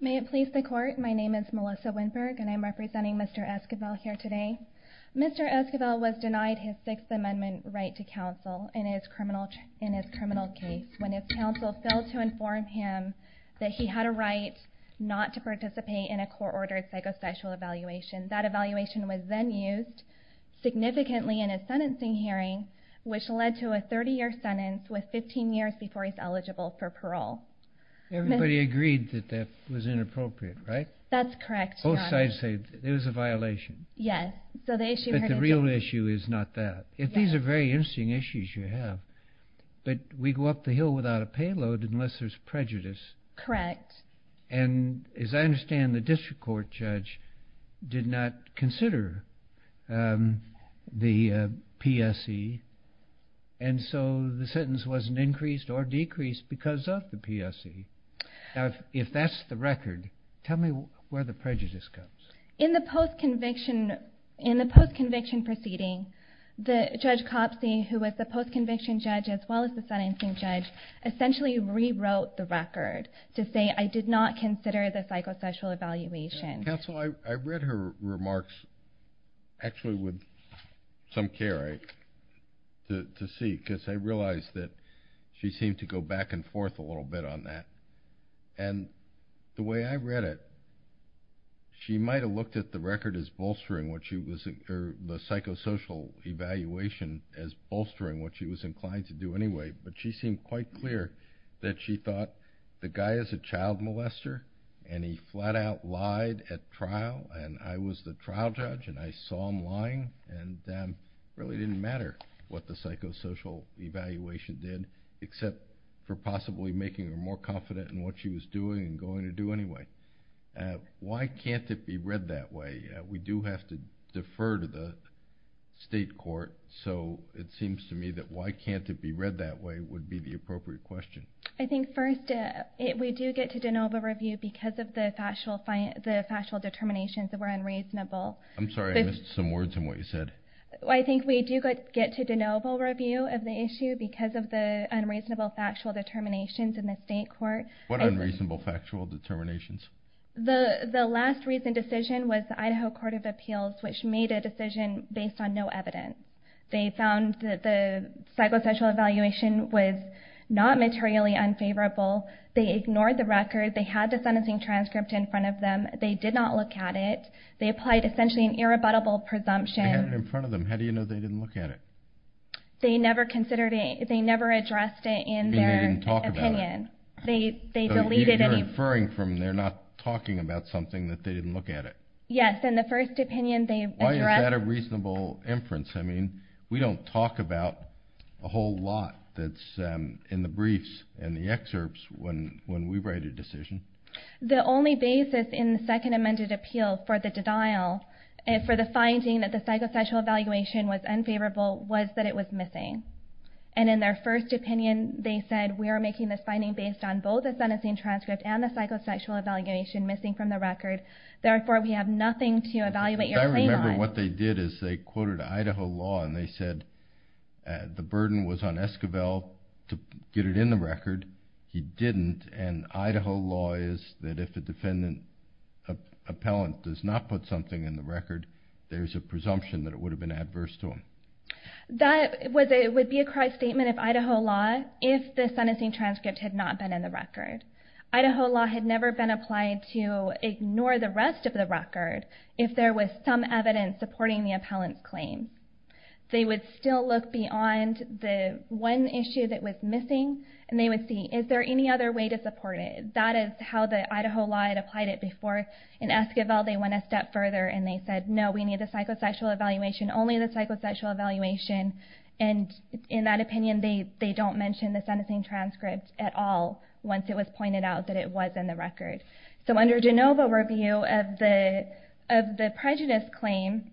May it please the court, my name is Melissa Winberg and I'm representing Mr. Esquivel here today. Mr. Esquivel was denied his Sixth Amendment right to counsel in his criminal case when his counsel failed to inform him that he had a right not to participate in a court-ordered psychosexual evaluation. That evaluation was then used significantly in a 30-year sentence with 15 years before he's eligible for parole. Everybody agreed that that was inappropriate, right? That's correct. Both sides say it was a violation. Yes. But the real issue is not that. These are very interesting issues you have. But we go up the hill without a payload unless there's prejudice. Correct. And as I understand the district court judge did not consider the PSE and so he's not eligible for parole. And so the sentence wasn't increased or decreased because of the PSE. Now if that's the record, tell me where the prejudice comes. In the post-conviction proceeding, Judge Copsey who was the post-conviction judge as well as the sentencing judge essentially rewrote the record to say I did not consider the psychosexual evaluation. Counsel, I read her remarks actually with some care to see because I realized that she seemed to go back and forth a little bit on that. And the way I read it, she might have looked at the record as bolstering what she was, or the psychosocial evaluation as bolstering what she was inclined to do anyway. But she seemed quite clear that she thought the guy is a child molester and he flat out lied at trial and I was the trial judge and I saw him lying and really didn't matter what the psychosocial evaluation did except for possibly making her more confident in what she was doing and going to do anyway. Why can't it be read that way? We do have to defer to the state court so it seems to me that why can't it be read that way would be the appropriate question. I think first we do get to de novo review because of the factual determinations that were unreasonable. I'm sorry I missed some words in what you said. I think we do get to de novo review of the issue because of the unreasonable factual determinations in the state court. What unreasonable factual determinations? The last recent decision was the Idaho Court of Appeals which made a decision based on no evidence. They found that the psychosocial evaluation was not materially unfavorable. They ignored the record. They had the sentencing transcript in front of them. They did not look at it. They applied essentially an irrebuttable presumption. They had it in front of them. How do you know they didn't look at it? They never considered it. They never addressed it in their opinion. They deleted it. You're inferring from they're not talking about something that they didn't look at it. Yes, in the first opinion they addressed. Why is that a reasonable inference? We don't talk about a whole lot that's in the briefs and the excerpts when we write a decision. The only basis in the second amended appeal for the denial, for the finding that the psychosexual evaluation was unfavorable was that it was missing. And in their first opinion they said we are making this finding based on both the sentencing transcript and the psychosexual evaluation missing from the record. Therefore we have nothing to evaluate your claim on. I remember what they did is they quoted Idaho law and they said the burden was on Esquivel to get it in the record. He didn't and Idaho law is that if the defendant appellant does not put something in the record there's a presumption that it would have been adverse to him. That would be a cross statement of Idaho law if the sentencing transcript had not been in the record. Idaho law had never been applied to ignore the rest of the record if there was some evidence supporting the appellant's claim. They would still look beyond the one issue that was missing and they would see is there any other way to support it. That is how the Idaho law had applied it before. In Esquivel they went a step further and they said no we need the psychosexual evaluation, only the psychosexual evaluation. And in that opinion they don't mention the sentencing transcript at all once it was pointed out that it was in the record. So under Jenova review of the prejudice claim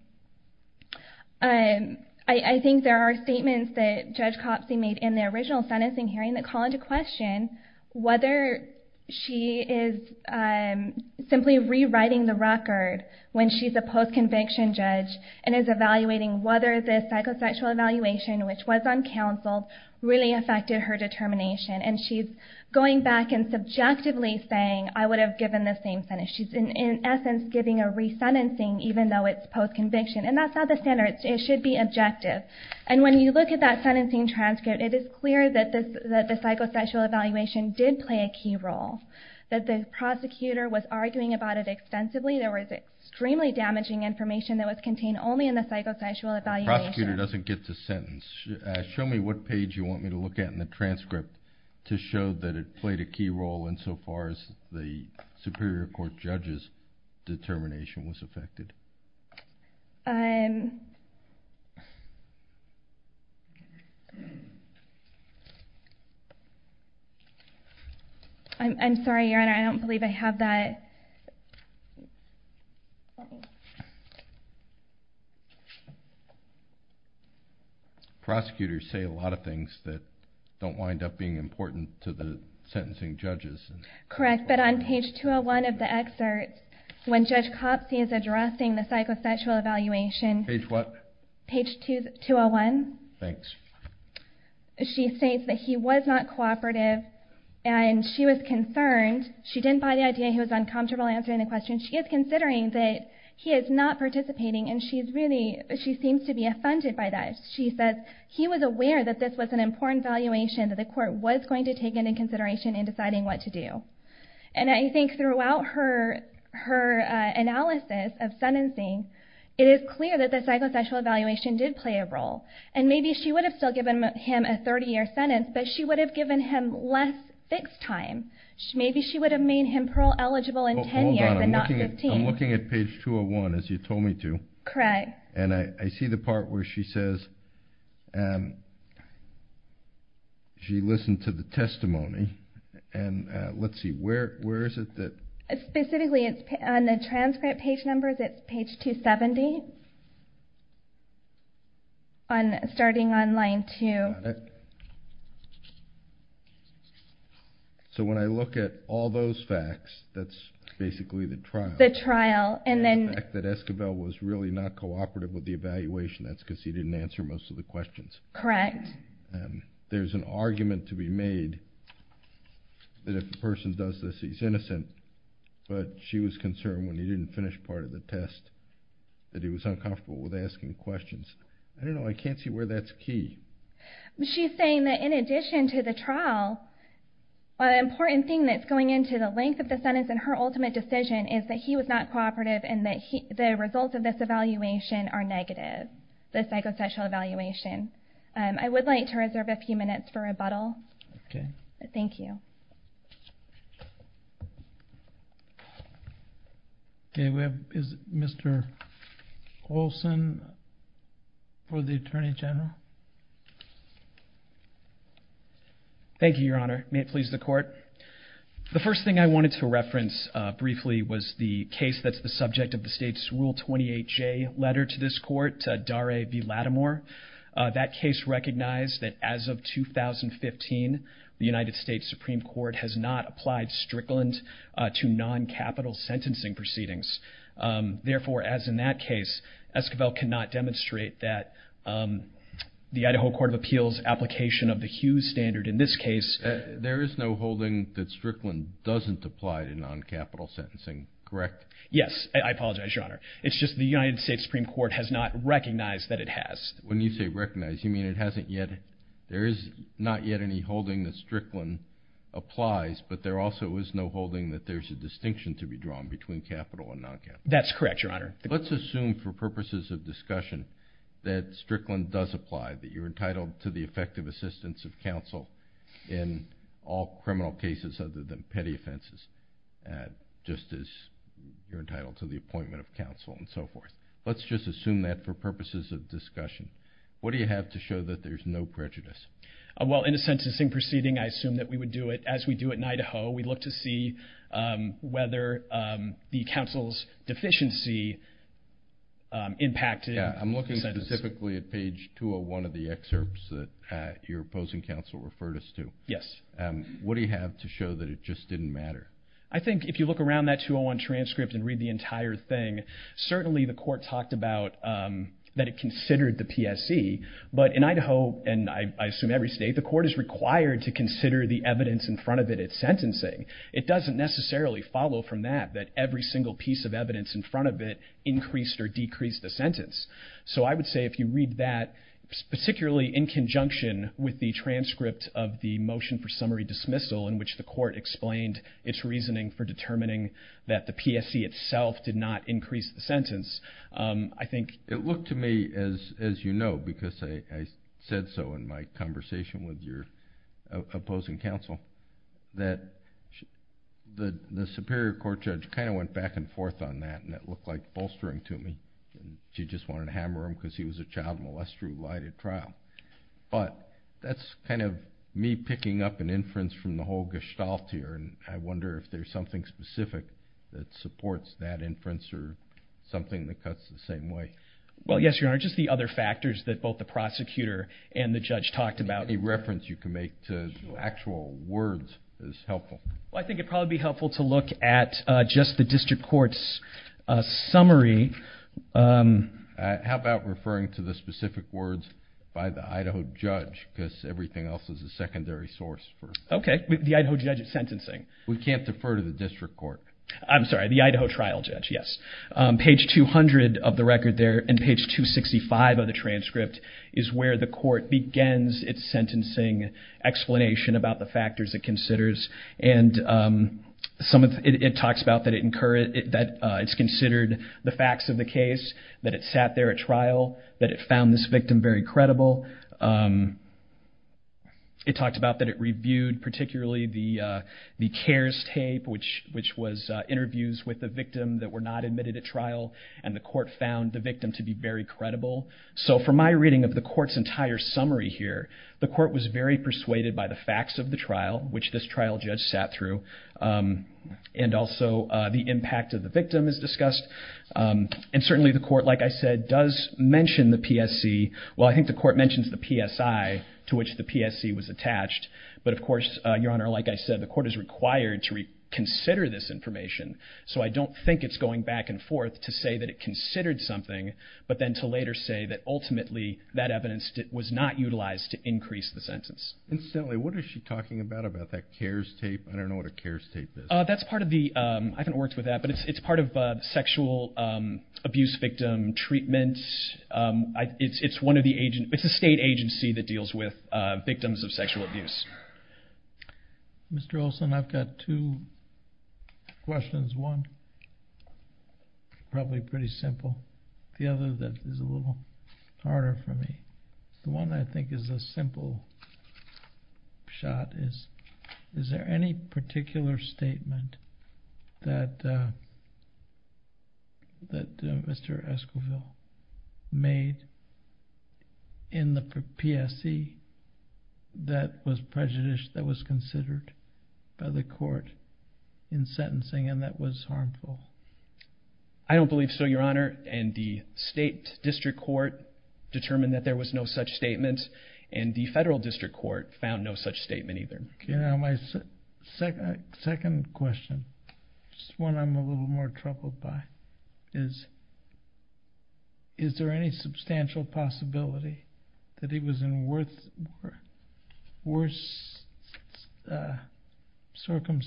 I think there are statements that Judge Copsey made in the original sentencing hearing that call into question whether she is simply rewriting the record when she's a post-conviction judge and is evaluating whether the psychosexual evaluation which was uncounseled really affected her determination. And she's going back and subjectively saying I would have given the same sentence. She's in essence giving a re-sentencing even though it's post-conviction. And that's not the standard. It should be objective. And when you look at that sentencing transcript it is clear that the psychosexual evaluation did play a key role. That the prosecutor was arguing about it extensively. There was extremely damaging information that was contained only in the psychosexual evaluation. The prosecutor doesn't get the sentence. Show me what page you want me to look at in the transcript to show that it played a key role insofar as the Superior Court judge's determination was affected. I'm sorry, Your Honor. I don't believe I have that. Prosecutors say a lot of things that don't wind up being important to the jury. On page 201 of the excerpt, when Judge Copsey is addressing the psychosexual evaluation, she states that he was not cooperative and she was concerned. She didn't buy the idea he was uncomfortable answering the question. She is considering that he is not participating and she seems to be offended by that. She says he was aware that this was an important evaluation that the court was going to take into consideration in deciding what to do. And I think throughout her analysis of sentencing, it is clear that the psychosexual evaluation did play a role. And maybe she would have still given him a 30-year sentence, but she would have given him less fixed time. Maybe she would have made him parole eligible in 10 years and not 15. I'm looking at page 201, as you told me to. Correct. And I see the she listened to the testimony. And let's see, where is it? Specifically, on the transcript page number, it's page 270, starting on line 2. Got it. So when I look at all those facts, that's basically the trial. The trial. And the fact that Escobel was really not cooperative with the evaluation, that's because he didn't answer most of the questions. Correct. There's an argument to be made that if a person does this, he's innocent. But she was concerned when he didn't finish part of the test that he was uncomfortable with asking questions. I don't know, I can't see where that's key. She's saying that in addition to the trial, an important thing that's going into the length of the sentence in her ultimate decision is that he was not cooperative and that the results of this evaluation are negative, this psychosexual evaluation. I would like to reserve a few minutes for rebuttal. Okay. Thank you. Okay, we have Mr. Olson for the Attorney General. Thank you, Your Honor. May it please the case that's the subject of the state's Rule 28J letter to this court, Daray v. Lattimore. That case recognized that as of 2015, the United States Supreme Court has not applied Strickland to non-capital sentencing proceedings. Therefore, as in that case, Escobel cannot demonstrate that the Idaho Court of Appeals application of the Hughes standard in this case... There is no holding that Strickland doesn't apply to non-capital sentencing, correct? Yes, I apologize, Your Honor. It's just the United States Supreme Court has not recognized that it has. When you say recognize, you mean it hasn't yet... There is not yet any holding that Strickland applies, but there also is no holding that there's a distinction to be drawn between capital and non-capital. That's correct, Your Honor. Let's assume for purposes of discussion that Strickland does apply, that you're entitled to the effective assistance of counsel in all criminal cases other than petty offenses, just as you're entitled to the appointment of counsel and so forth. Let's just assume that for purposes of discussion. What do you have to show that there's no prejudice? Well, in a sentencing proceeding, I assume that we would do it as we do in Idaho. We look to see whether the counsel's deficiency impacted... Yeah, I'm looking specifically at page 201 of the excerpts that your opposing counsel referred us to. What do you have to show that it just didn't matter? I think if you look around that 201 transcript and read the entire thing, certainly the court talked about that it considered the PSE, but in Idaho, and I assume every state, the court is required to consider the evidence in front of it at sentencing. It doesn't necessarily follow from that, that every single piece of evidence in front of it increased or decreased the sentence. So I would say if you read that, particularly in conjunction with the transcript of the motion for summary dismissal in which the court explained its reasoning for determining that the PSE itself did not increase the sentence, I think... It looked to me, as you know, because I said so in my conversation with your opposing counsel, that the superior court judge kind of went back and forth on that, and it looked like you just wanted to hammer him because he was a child molester who lied at trial. But that's kind of me picking up an inference from the whole gestalt here, and I wonder if there's something specific that supports that inference or something that cuts the same way. Well, yes, Your Honor. Just the other factors that both the prosecutor and the judge talked about... Any reference you can make to actual words is helpful. I think it'd probably be helpful to look at just the district court's summary. How about referring to the specific words by the Idaho judge, because everything else is a secondary source for... Okay. The Idaho judge's sentencing. We can't defer to the district court. I'm sorry, the Idaho trial judge, yes. Page 200 of the record there and page 265 of the transcript is where the court begins its sentencing explanation about the factors it found to be very credible. It talks about that it's considered the facts of the case, that it sat there at trial, that it found this victim very credible. It talks about that it reviewed particularly the CARES tape, which was interviews with the victim that were not admitted at trial, and the court found the victim to be very credible. So from my reading of the court's entire summary here, the court was very persuaded by the facts of the trial, which this trial judge sat through, and also the impact of the victim is discussed. And certainly the court, like I said, does mention the PSC. Well, I think the court mentions the PSI to which the PSC was attached. But of course, Your Honor, like I said, the court is required to reconsider this information. So I don't think it's going back and forth to say that it considered something, but then to later say that ultimately that evidence was not utilized to increase the sentence. Incidentally, what is she talking about, about that CARES tape? I don't know what a CARES tape is. That's part of the, I haven't worked with that, but it's part of sexual abuse victim treatment. It's one of the, it's a state agency that deals with victims of sexual abuse. Mr. Olson, I've got two questions. One, probably pretty simple. The other, that is a little harder for me. The one I think is a simple shot is, is there any particular statement that Mr. Esquivel made in the PSC that was prejudiced, that was considered by the court in sentencing and that was harmful? I don't believe so, Your Honor. And the state district court determined that there was no such statement, and the federal district court found no such statement either. Your Honor, my second question, it's one I'm a little more troubled by, is, is there any substantial possibility that he was in worse circumstances with the court, that he was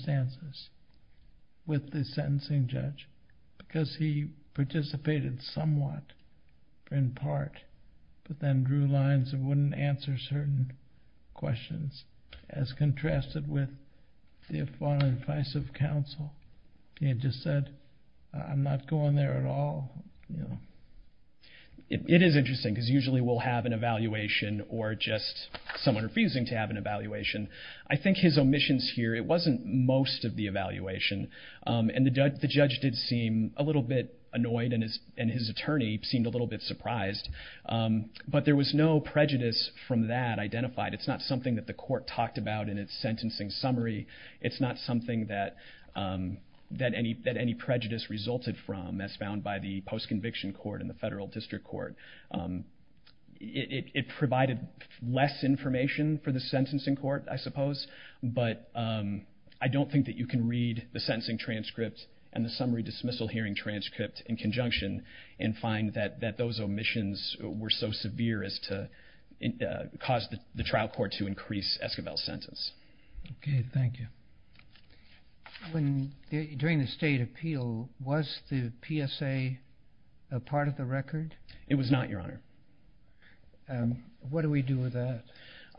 evaluated somewhat, in part, but then drew lines and wouldn't answer certain questions, as contrasted with the appalling advice of counsel? He had just said, I'm not going there at all. It is interesting because usually we'll have an evaluation or just someone refusing to have an evaluation. I think his omissions here, it wasn't most of the evaluation. And the judge did seem a little bit annoyed and his attorney seemed a little bit surprised, but there was no prejudice from that identified. It's not something that the court talked about in its sentencing summary. It's not something that any prejudice resulted from, as found by the post-conviction court and the federal district court. It provided less information for the sentencing court, I suppose, but I don't think that you can read the sentencing transcript and the summary dismissal hearing transcript in conjunction and find that those omissions were so severe as to cause the trial court to increase Escobel's sentence. Okay. Thank you. When, during the state appeal, was the PSA a part of the record? It was not, Your Honor. What do we do with that?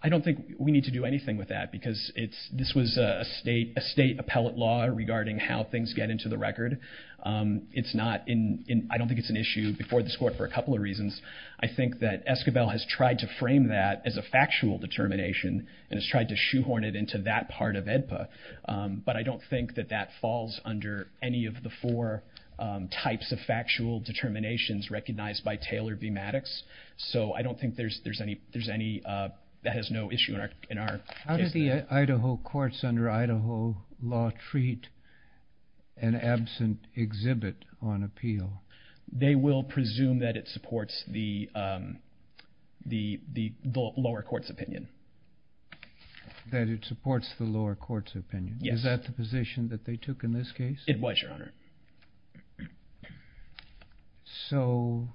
I don't think we need to do anything with that because it's, this was a state appellate law regarding how things get into the record. It's not in, I don't think it's an issue before this court for a couple of reasons. I think that Escobel has tried to frame that as a factual determination and has tried to shoehorn it into that part of AEDPA, but I don't think that that falls under any of the four types of factual determinations recognized by Taylor v. Maddox. So I don't think there's any, there's any, that has no issue in our case. How did the Idaho courts under Idaho law treat an absent exhibit on appeal? They will presume that it supports the, um, the, the lower court's opinion. That it supports the lower court's opinion? Yes. Is that the position that they took in this case? It was, Your Honor. So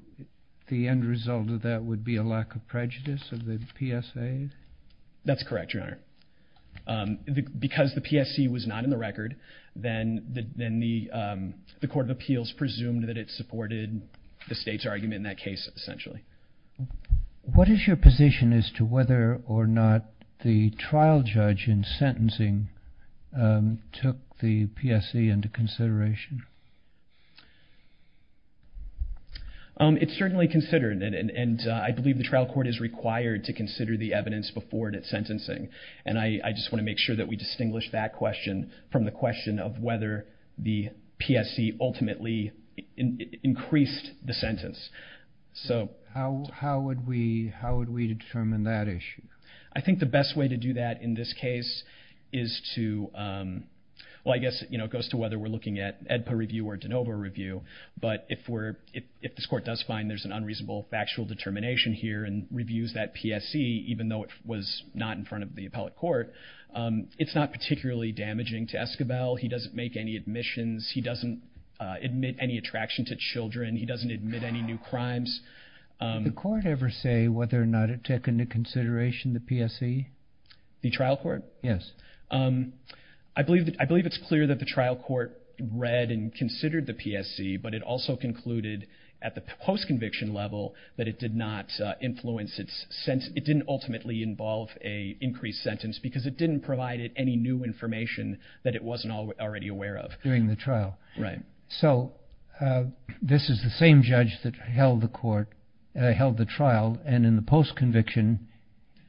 the end result of that would be a lack of prejudice of the PSA? That's correct, Your Honor. Um, the, because the PSC was not in the record, then the, then the, um, the court of appeals presumed that it supported the state's argument in that case, essentially. What is your position as to whether or not the trial judge in sentencing, um, took the PSC into consideration? Um, it's certainly considered and, and, and, uh, I believe the trial court is required to consider the evidence before that sentencing. And I, I just want to make sure that we distinguish that question from the question of whether the PSC ultimately increased the sentence. So how, how would we, how would we determine that issue? I think the best way to do that in this case is to, um, well, I guess, you know, it goes to whether we're looking at EDPA review or de novo review, but if we're, if, if this court does find there's an unreasonable factual determination here and reviews that PSC, even though it was not in front of the appellate court, um, it's not particularly damaging to Escobel. He doesn't make any admissions. He doesn't, uh, admit any attraction to children. He doesn't admit any new crimes. Um. Did the court ever say whether or not it took into consideration the PSC? The trial court? Yes. Um, I believe that, I believe it's clear that the trial court read and considered the PSC, but it also concluded at the post conviction level that it did not, uh, influence it since it didn't ultimately involve a increased sentence because it didn't provide it any new information that it wasn't already aware of during the trial. Right. So, uh, this is the same judge that held the court, uh, held the trial. And in the post conviction,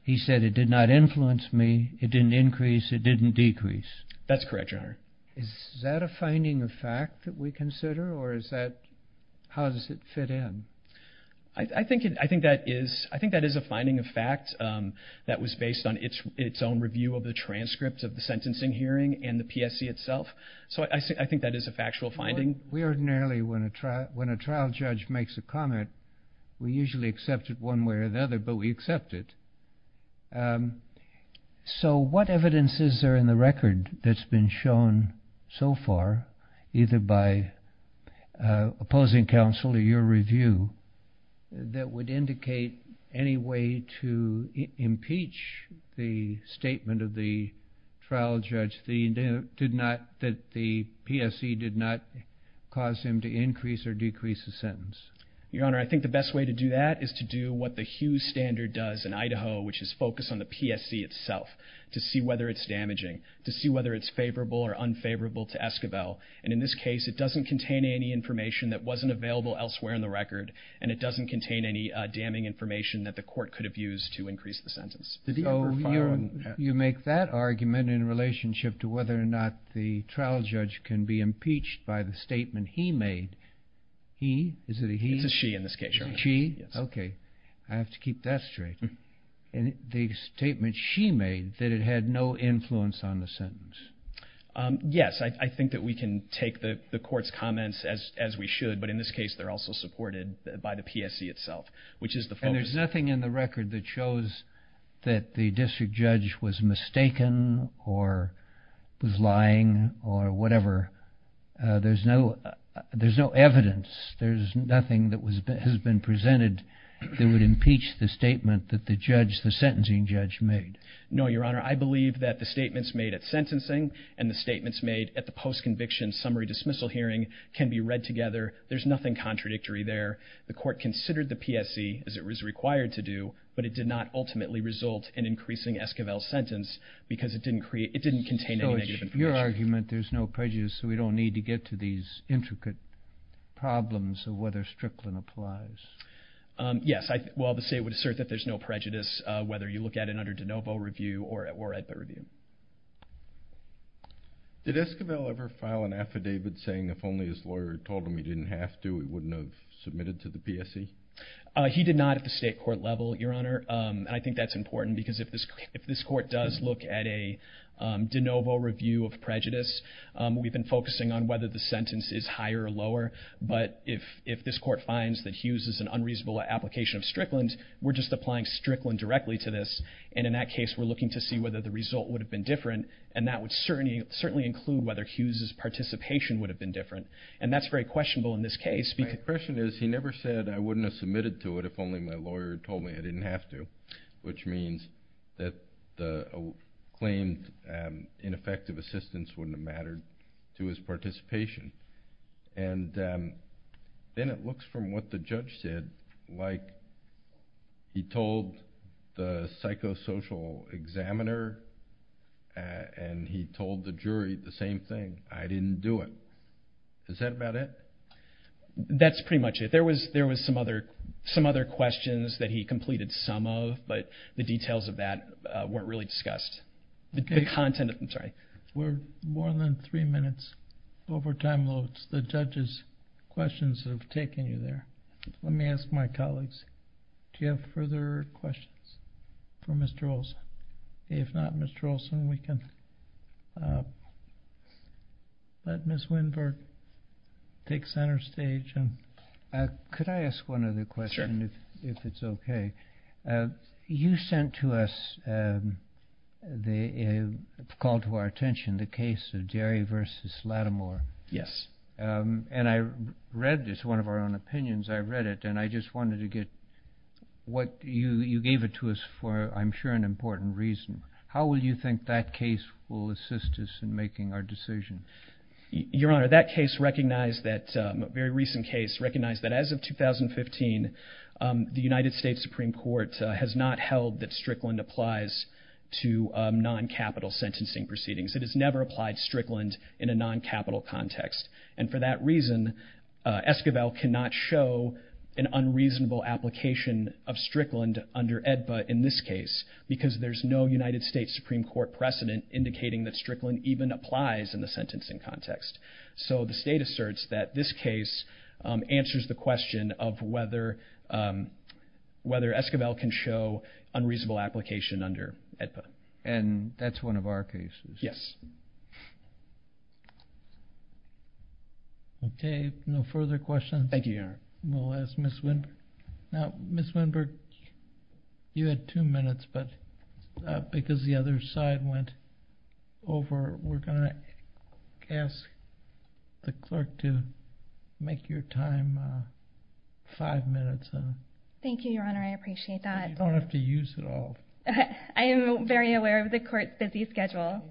he said it did not influence me. It didn't increase. It didn't decrease. That's correct. Your honor. Is that a finding of fact that we consider, or is that, how does it fit in? I think it, I think that is, I think that is a finding of facts, um, that was based on its own review of the transcripts of the sentencing hearing and the PSC itself. So I think that is a factual finding. We ordinarily, when a trial, when a trial judge makes a comment, we usually accept it one way or the other, but we accept it. Um, so what evidence is there in the record that's been shown so far, either by, uh, opposing counsel or your review that would indicate any way to impeach the statement of the trial judge, the, did not, that the PSC did not cause him to increase or decrease the sentence? Your honor. I think the best way to do that is to do what the Hughes standard does in Idaho, which is focused on the PSC itself to see whether it's damaging, to see whether it's favorable or unfavorable to Esquivel. And in this case, it doesn't contain any information that wasn't available elsewhere in the record. And it doesn't contain any damning information that the court could have used to increase the sentence. You make that argument in relationship to whether or not the trial judge can be impeached by the statement he made. He, is it a he? It's a she in this case, your honor. She, okay. I have to keep that straight. And the statement she made that it had no influence on the sentence. Yes. I think that we can take the court's comments as, as we should, but in this case, they're also supported by the PSC itself, which is the focus. And there's nothing in the record that shows that the district judge was mistaken or was lying or whatever. There's no, there's no evidence. There's nothing that was, has been presented that would impeach the statement that the judge, the sentencing judge made. No, your honor. I believe that the statements made at sentencing and the statements made at the post-conviction summary dismissal hearing can be read together. There's nothing contradictory there. The court considered the PSC as it was required to do, but it did not ultimately result in increasing Esquivel's sentence because it didn't create, it didn't contain any negative information. So it's your argument. There's no prejudice. So we don't need to get to these intricate problems of whether Strickland applies. Yes. Well, the state would assert that there's no prejudice, whether you look at it under de novo review or at the review. Did Esquivel ever file an affidavit saying if only his lawyer told him he didn't have to, he wouldn't have submitted to the PSC? He did not at the state court level, your honor. And I think that's important because if this, if this court does look at a de novo review of prejudice, we've been focusing on whether the sentence is higher or lower, but if, if this court finds that Hughes is an unreasonable application of Strickland, we're just applying Strickland directly to this. And in that case, we're looking to see whether the result would have been different. And that would certainly, certainly include whether Hughes's participation would have been different. And that's very questionable in this case. My impression is he never said I wouldn't have submitted to it if only my lawyer told me I didn't have to, which means that the claimed ineffective assistance wouldn't have mattered to his participation. And then it looks from what the judge said, like he told the psychosocial examiner and he told the jury the same thing, I didn't do it. Is that about it? That's pretty much it. There was, there was some other, some other questions that he completed some of, but the details of that weren't really discussed. The content, I'm sorry. We're more than three minutes over time loads. The judge's questions have taken you there. Let me ask my colleagues, do you have further questions for Mr. Olson? If not, Mr. Olson, we can let Ms. Winberg take center stage. Could I ask one other question if it's okay? You sent to us the call to our attention, the case of Jerry versus Lattimore. Yes. And I read this, one of our own opinions, I read it and I just wanted to get what you, you gave it to us for, I'm sure an important reason. How will you think that case will assist us in making our decision? Your Honor, that case recognized that, a very recent case recognized that as of 2015, the United States Supreme Court has not held that Strickland applies to non-capital sentencing proceedings. It has never applied Strickland in a non-capital context. And for that reason, Esquivel cannot show an unreasonable application of Strickland under AEDPA in this case because there's no United States Supreme Court precedent indicating that Strickland even applies in the sentencing context. So the state asserts that this case answers the question of whether Esquivel can show unreasonable application under AEDPA. And that's one of our cases. Yes. Okay, no further questions? Thank you, Your Honor. We'll ask Ms. Winberg. Now, Ms. Winberg, you had two minutes, but because the other side went over, we're going to ask the clerk to make your time five minutes. Thank you, Your Honor. I appreciate that. You don't have to use it all. I am very aware of the court's busy schedule.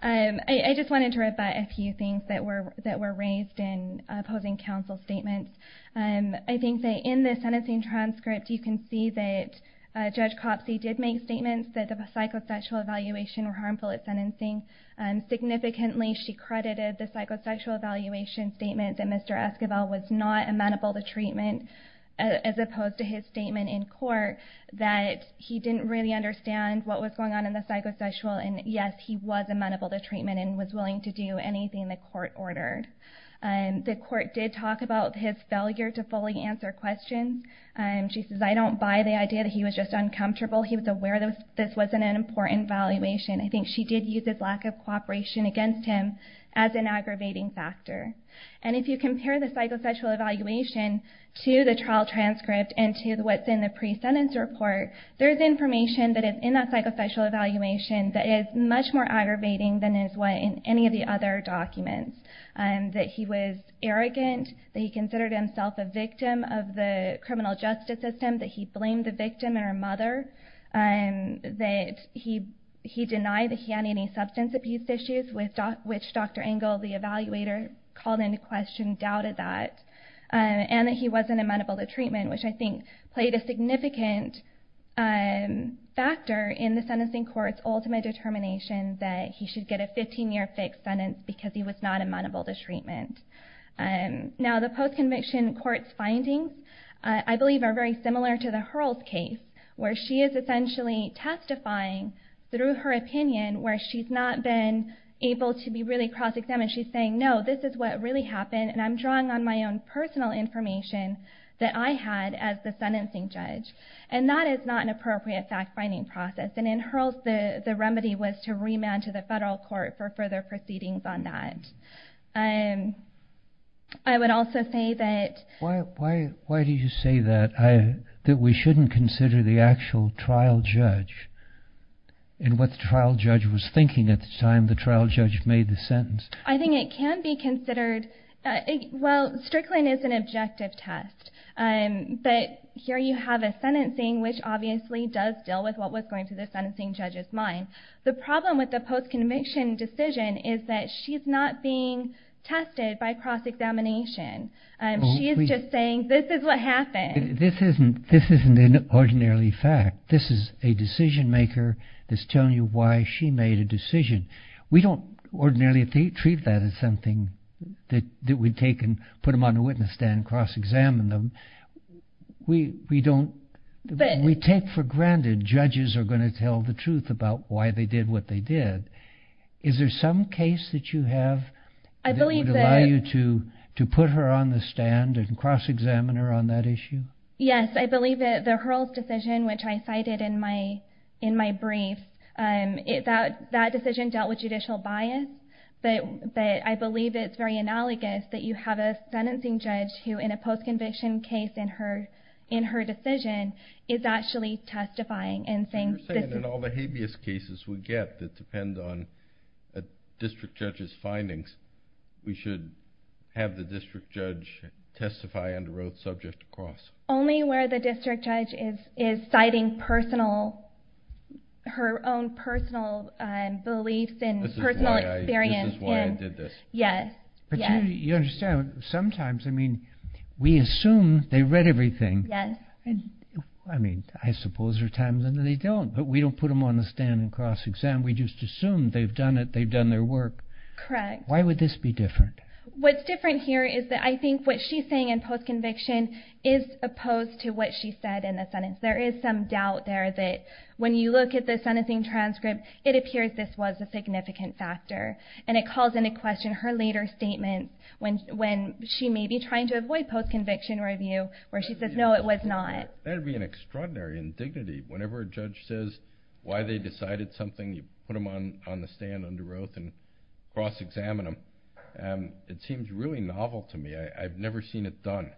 I just wanted to read by a few things that were raised in opposing counsel statements. I think that in the sentencing transcript, you can see that Judge Copsey did make statements that the psychosexual evaluation were harmful at sentencing. Significantly, she credited the psychosexual evaluation statement that Mr. Esquivel was not amenable to treatment as opposed to his statement in court that he didn't really understand what was going on in the psychosexual. And yes, he was amenable to treatment and was willing to do anything the court ordered. The court did talk about his failure to fully answer questions. She says, I don't buy the idea that he was just uncomfortable. He was aware that this wasn't an important evaluation. I think she did use his lack of cooperation against him as an aggravating factor. And if you compare the psychosexual evaluation to the trial transcript and to what's in the pre-sentence report, there's information that is in that psychosexual evaluation that is much more aggravating than is what in any of the other documents. That he was arrogant, that he considered himself a victim of the criminal justice system, that he blamed the victim and her mother, that he denied that he had any substance abuse issues, which Dr. Engel, the evaluator, called into question, doubted that, and that he wasn't amenable to treatment, which I think played a significant factor in the sentencing court's ultimate determination that he should get a 15-year fixed sentence because he was not amenable to treatment. Now the post-conviction court's findings, I believe, are very similar to the Hurls case, where she is essentially testifying through her opinion, where she's not been able to be really cross-examined. She's saying, no, this is what really happened, and I'm drawing on my own personal information that I had as the sentencing judge. And that is not an appropriate fact-finding process. And in Hurls, the remedy was to remand to the federal court for further proceedings on that. I would also say that... Why do you say that, that we shouldn't consider the actual trial judge and what the trial judge was thinking at the time the trial judge made the sentence? I think it can be considered... Well, Strickland is an objective test, but here you have a sentencing which obviously does deal with what was going through the sentencing judge's mind. The problem with the post-conviction decision is that she's not being tested by cross-examination. She is just saying, this is what happened. This isn't an ordinarily fact. This is a decision-maker that's telling you why she made a decision. We don't ordinarily treat that as something that we take and put them on a witness stand, cross-examine them. We don't... We take for granted judges are going to tell the truth about why they did what they did. Is there some case that you have that would allow you to put her on the stand and cross-examine her on that issue? Yes, I believe that the Hurls decision, which I cited in my brief, that decision dealt with judicial bias, but I believe it's very analogous that you have a sentencing judge who, in a post-conviction case in her decision, is actually testifying and saying... So you're saying in all the habeas cases we get that depend on a district judge's findings, we should have the district judge testify under oath subject to cross? Only where the district judge is citing personal... Her own personal beliefs and personal experience. This is why I did this. Yes, yes. You understand, sometimes, I mean, we assume they read everything. I mean, I suppose there are times when they don't, but we don't put them on the stand and cross-examine. We just assume they've done it, they've done their work. Correct. Why would this be different? What's different here is that I think what she's saying in post-conviction is opposed to what she said in the sentence. There is some doubt there that when you look at the sentencing transcript, it appears this was a significant factor. And it calls into question her later statement when she may be trying to avoid post-conviction review, where she says, no, it was not. That would be an extraordinary indignity. Whenever a judge says why they decided something, you put them on the stand under oath and cross-examine them. It seems really novel to me. I've never seen it done.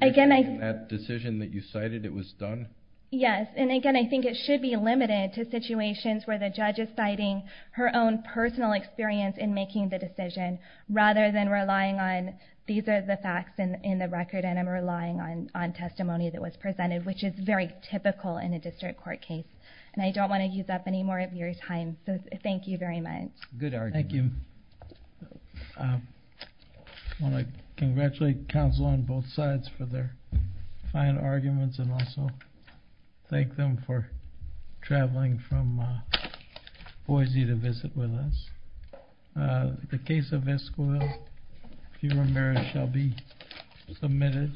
Again, I... That decision that you cited, it was done? Yes. And again, I think it should be limited to situations where the judge is citing her own personal experience in making the decision, rather than relying on these are the facts in the record, and I'm relying on testimony that was presented, which is very typical in a district court case. And I don't want to use up any more of your time. So thank you very much. Good argument. Thank you. I want to congratulate counsel on both sides for their fine arguments, and also thank them for traveling from Boise to visit with us. The case of Esquivel, if you remember, shall be submitted.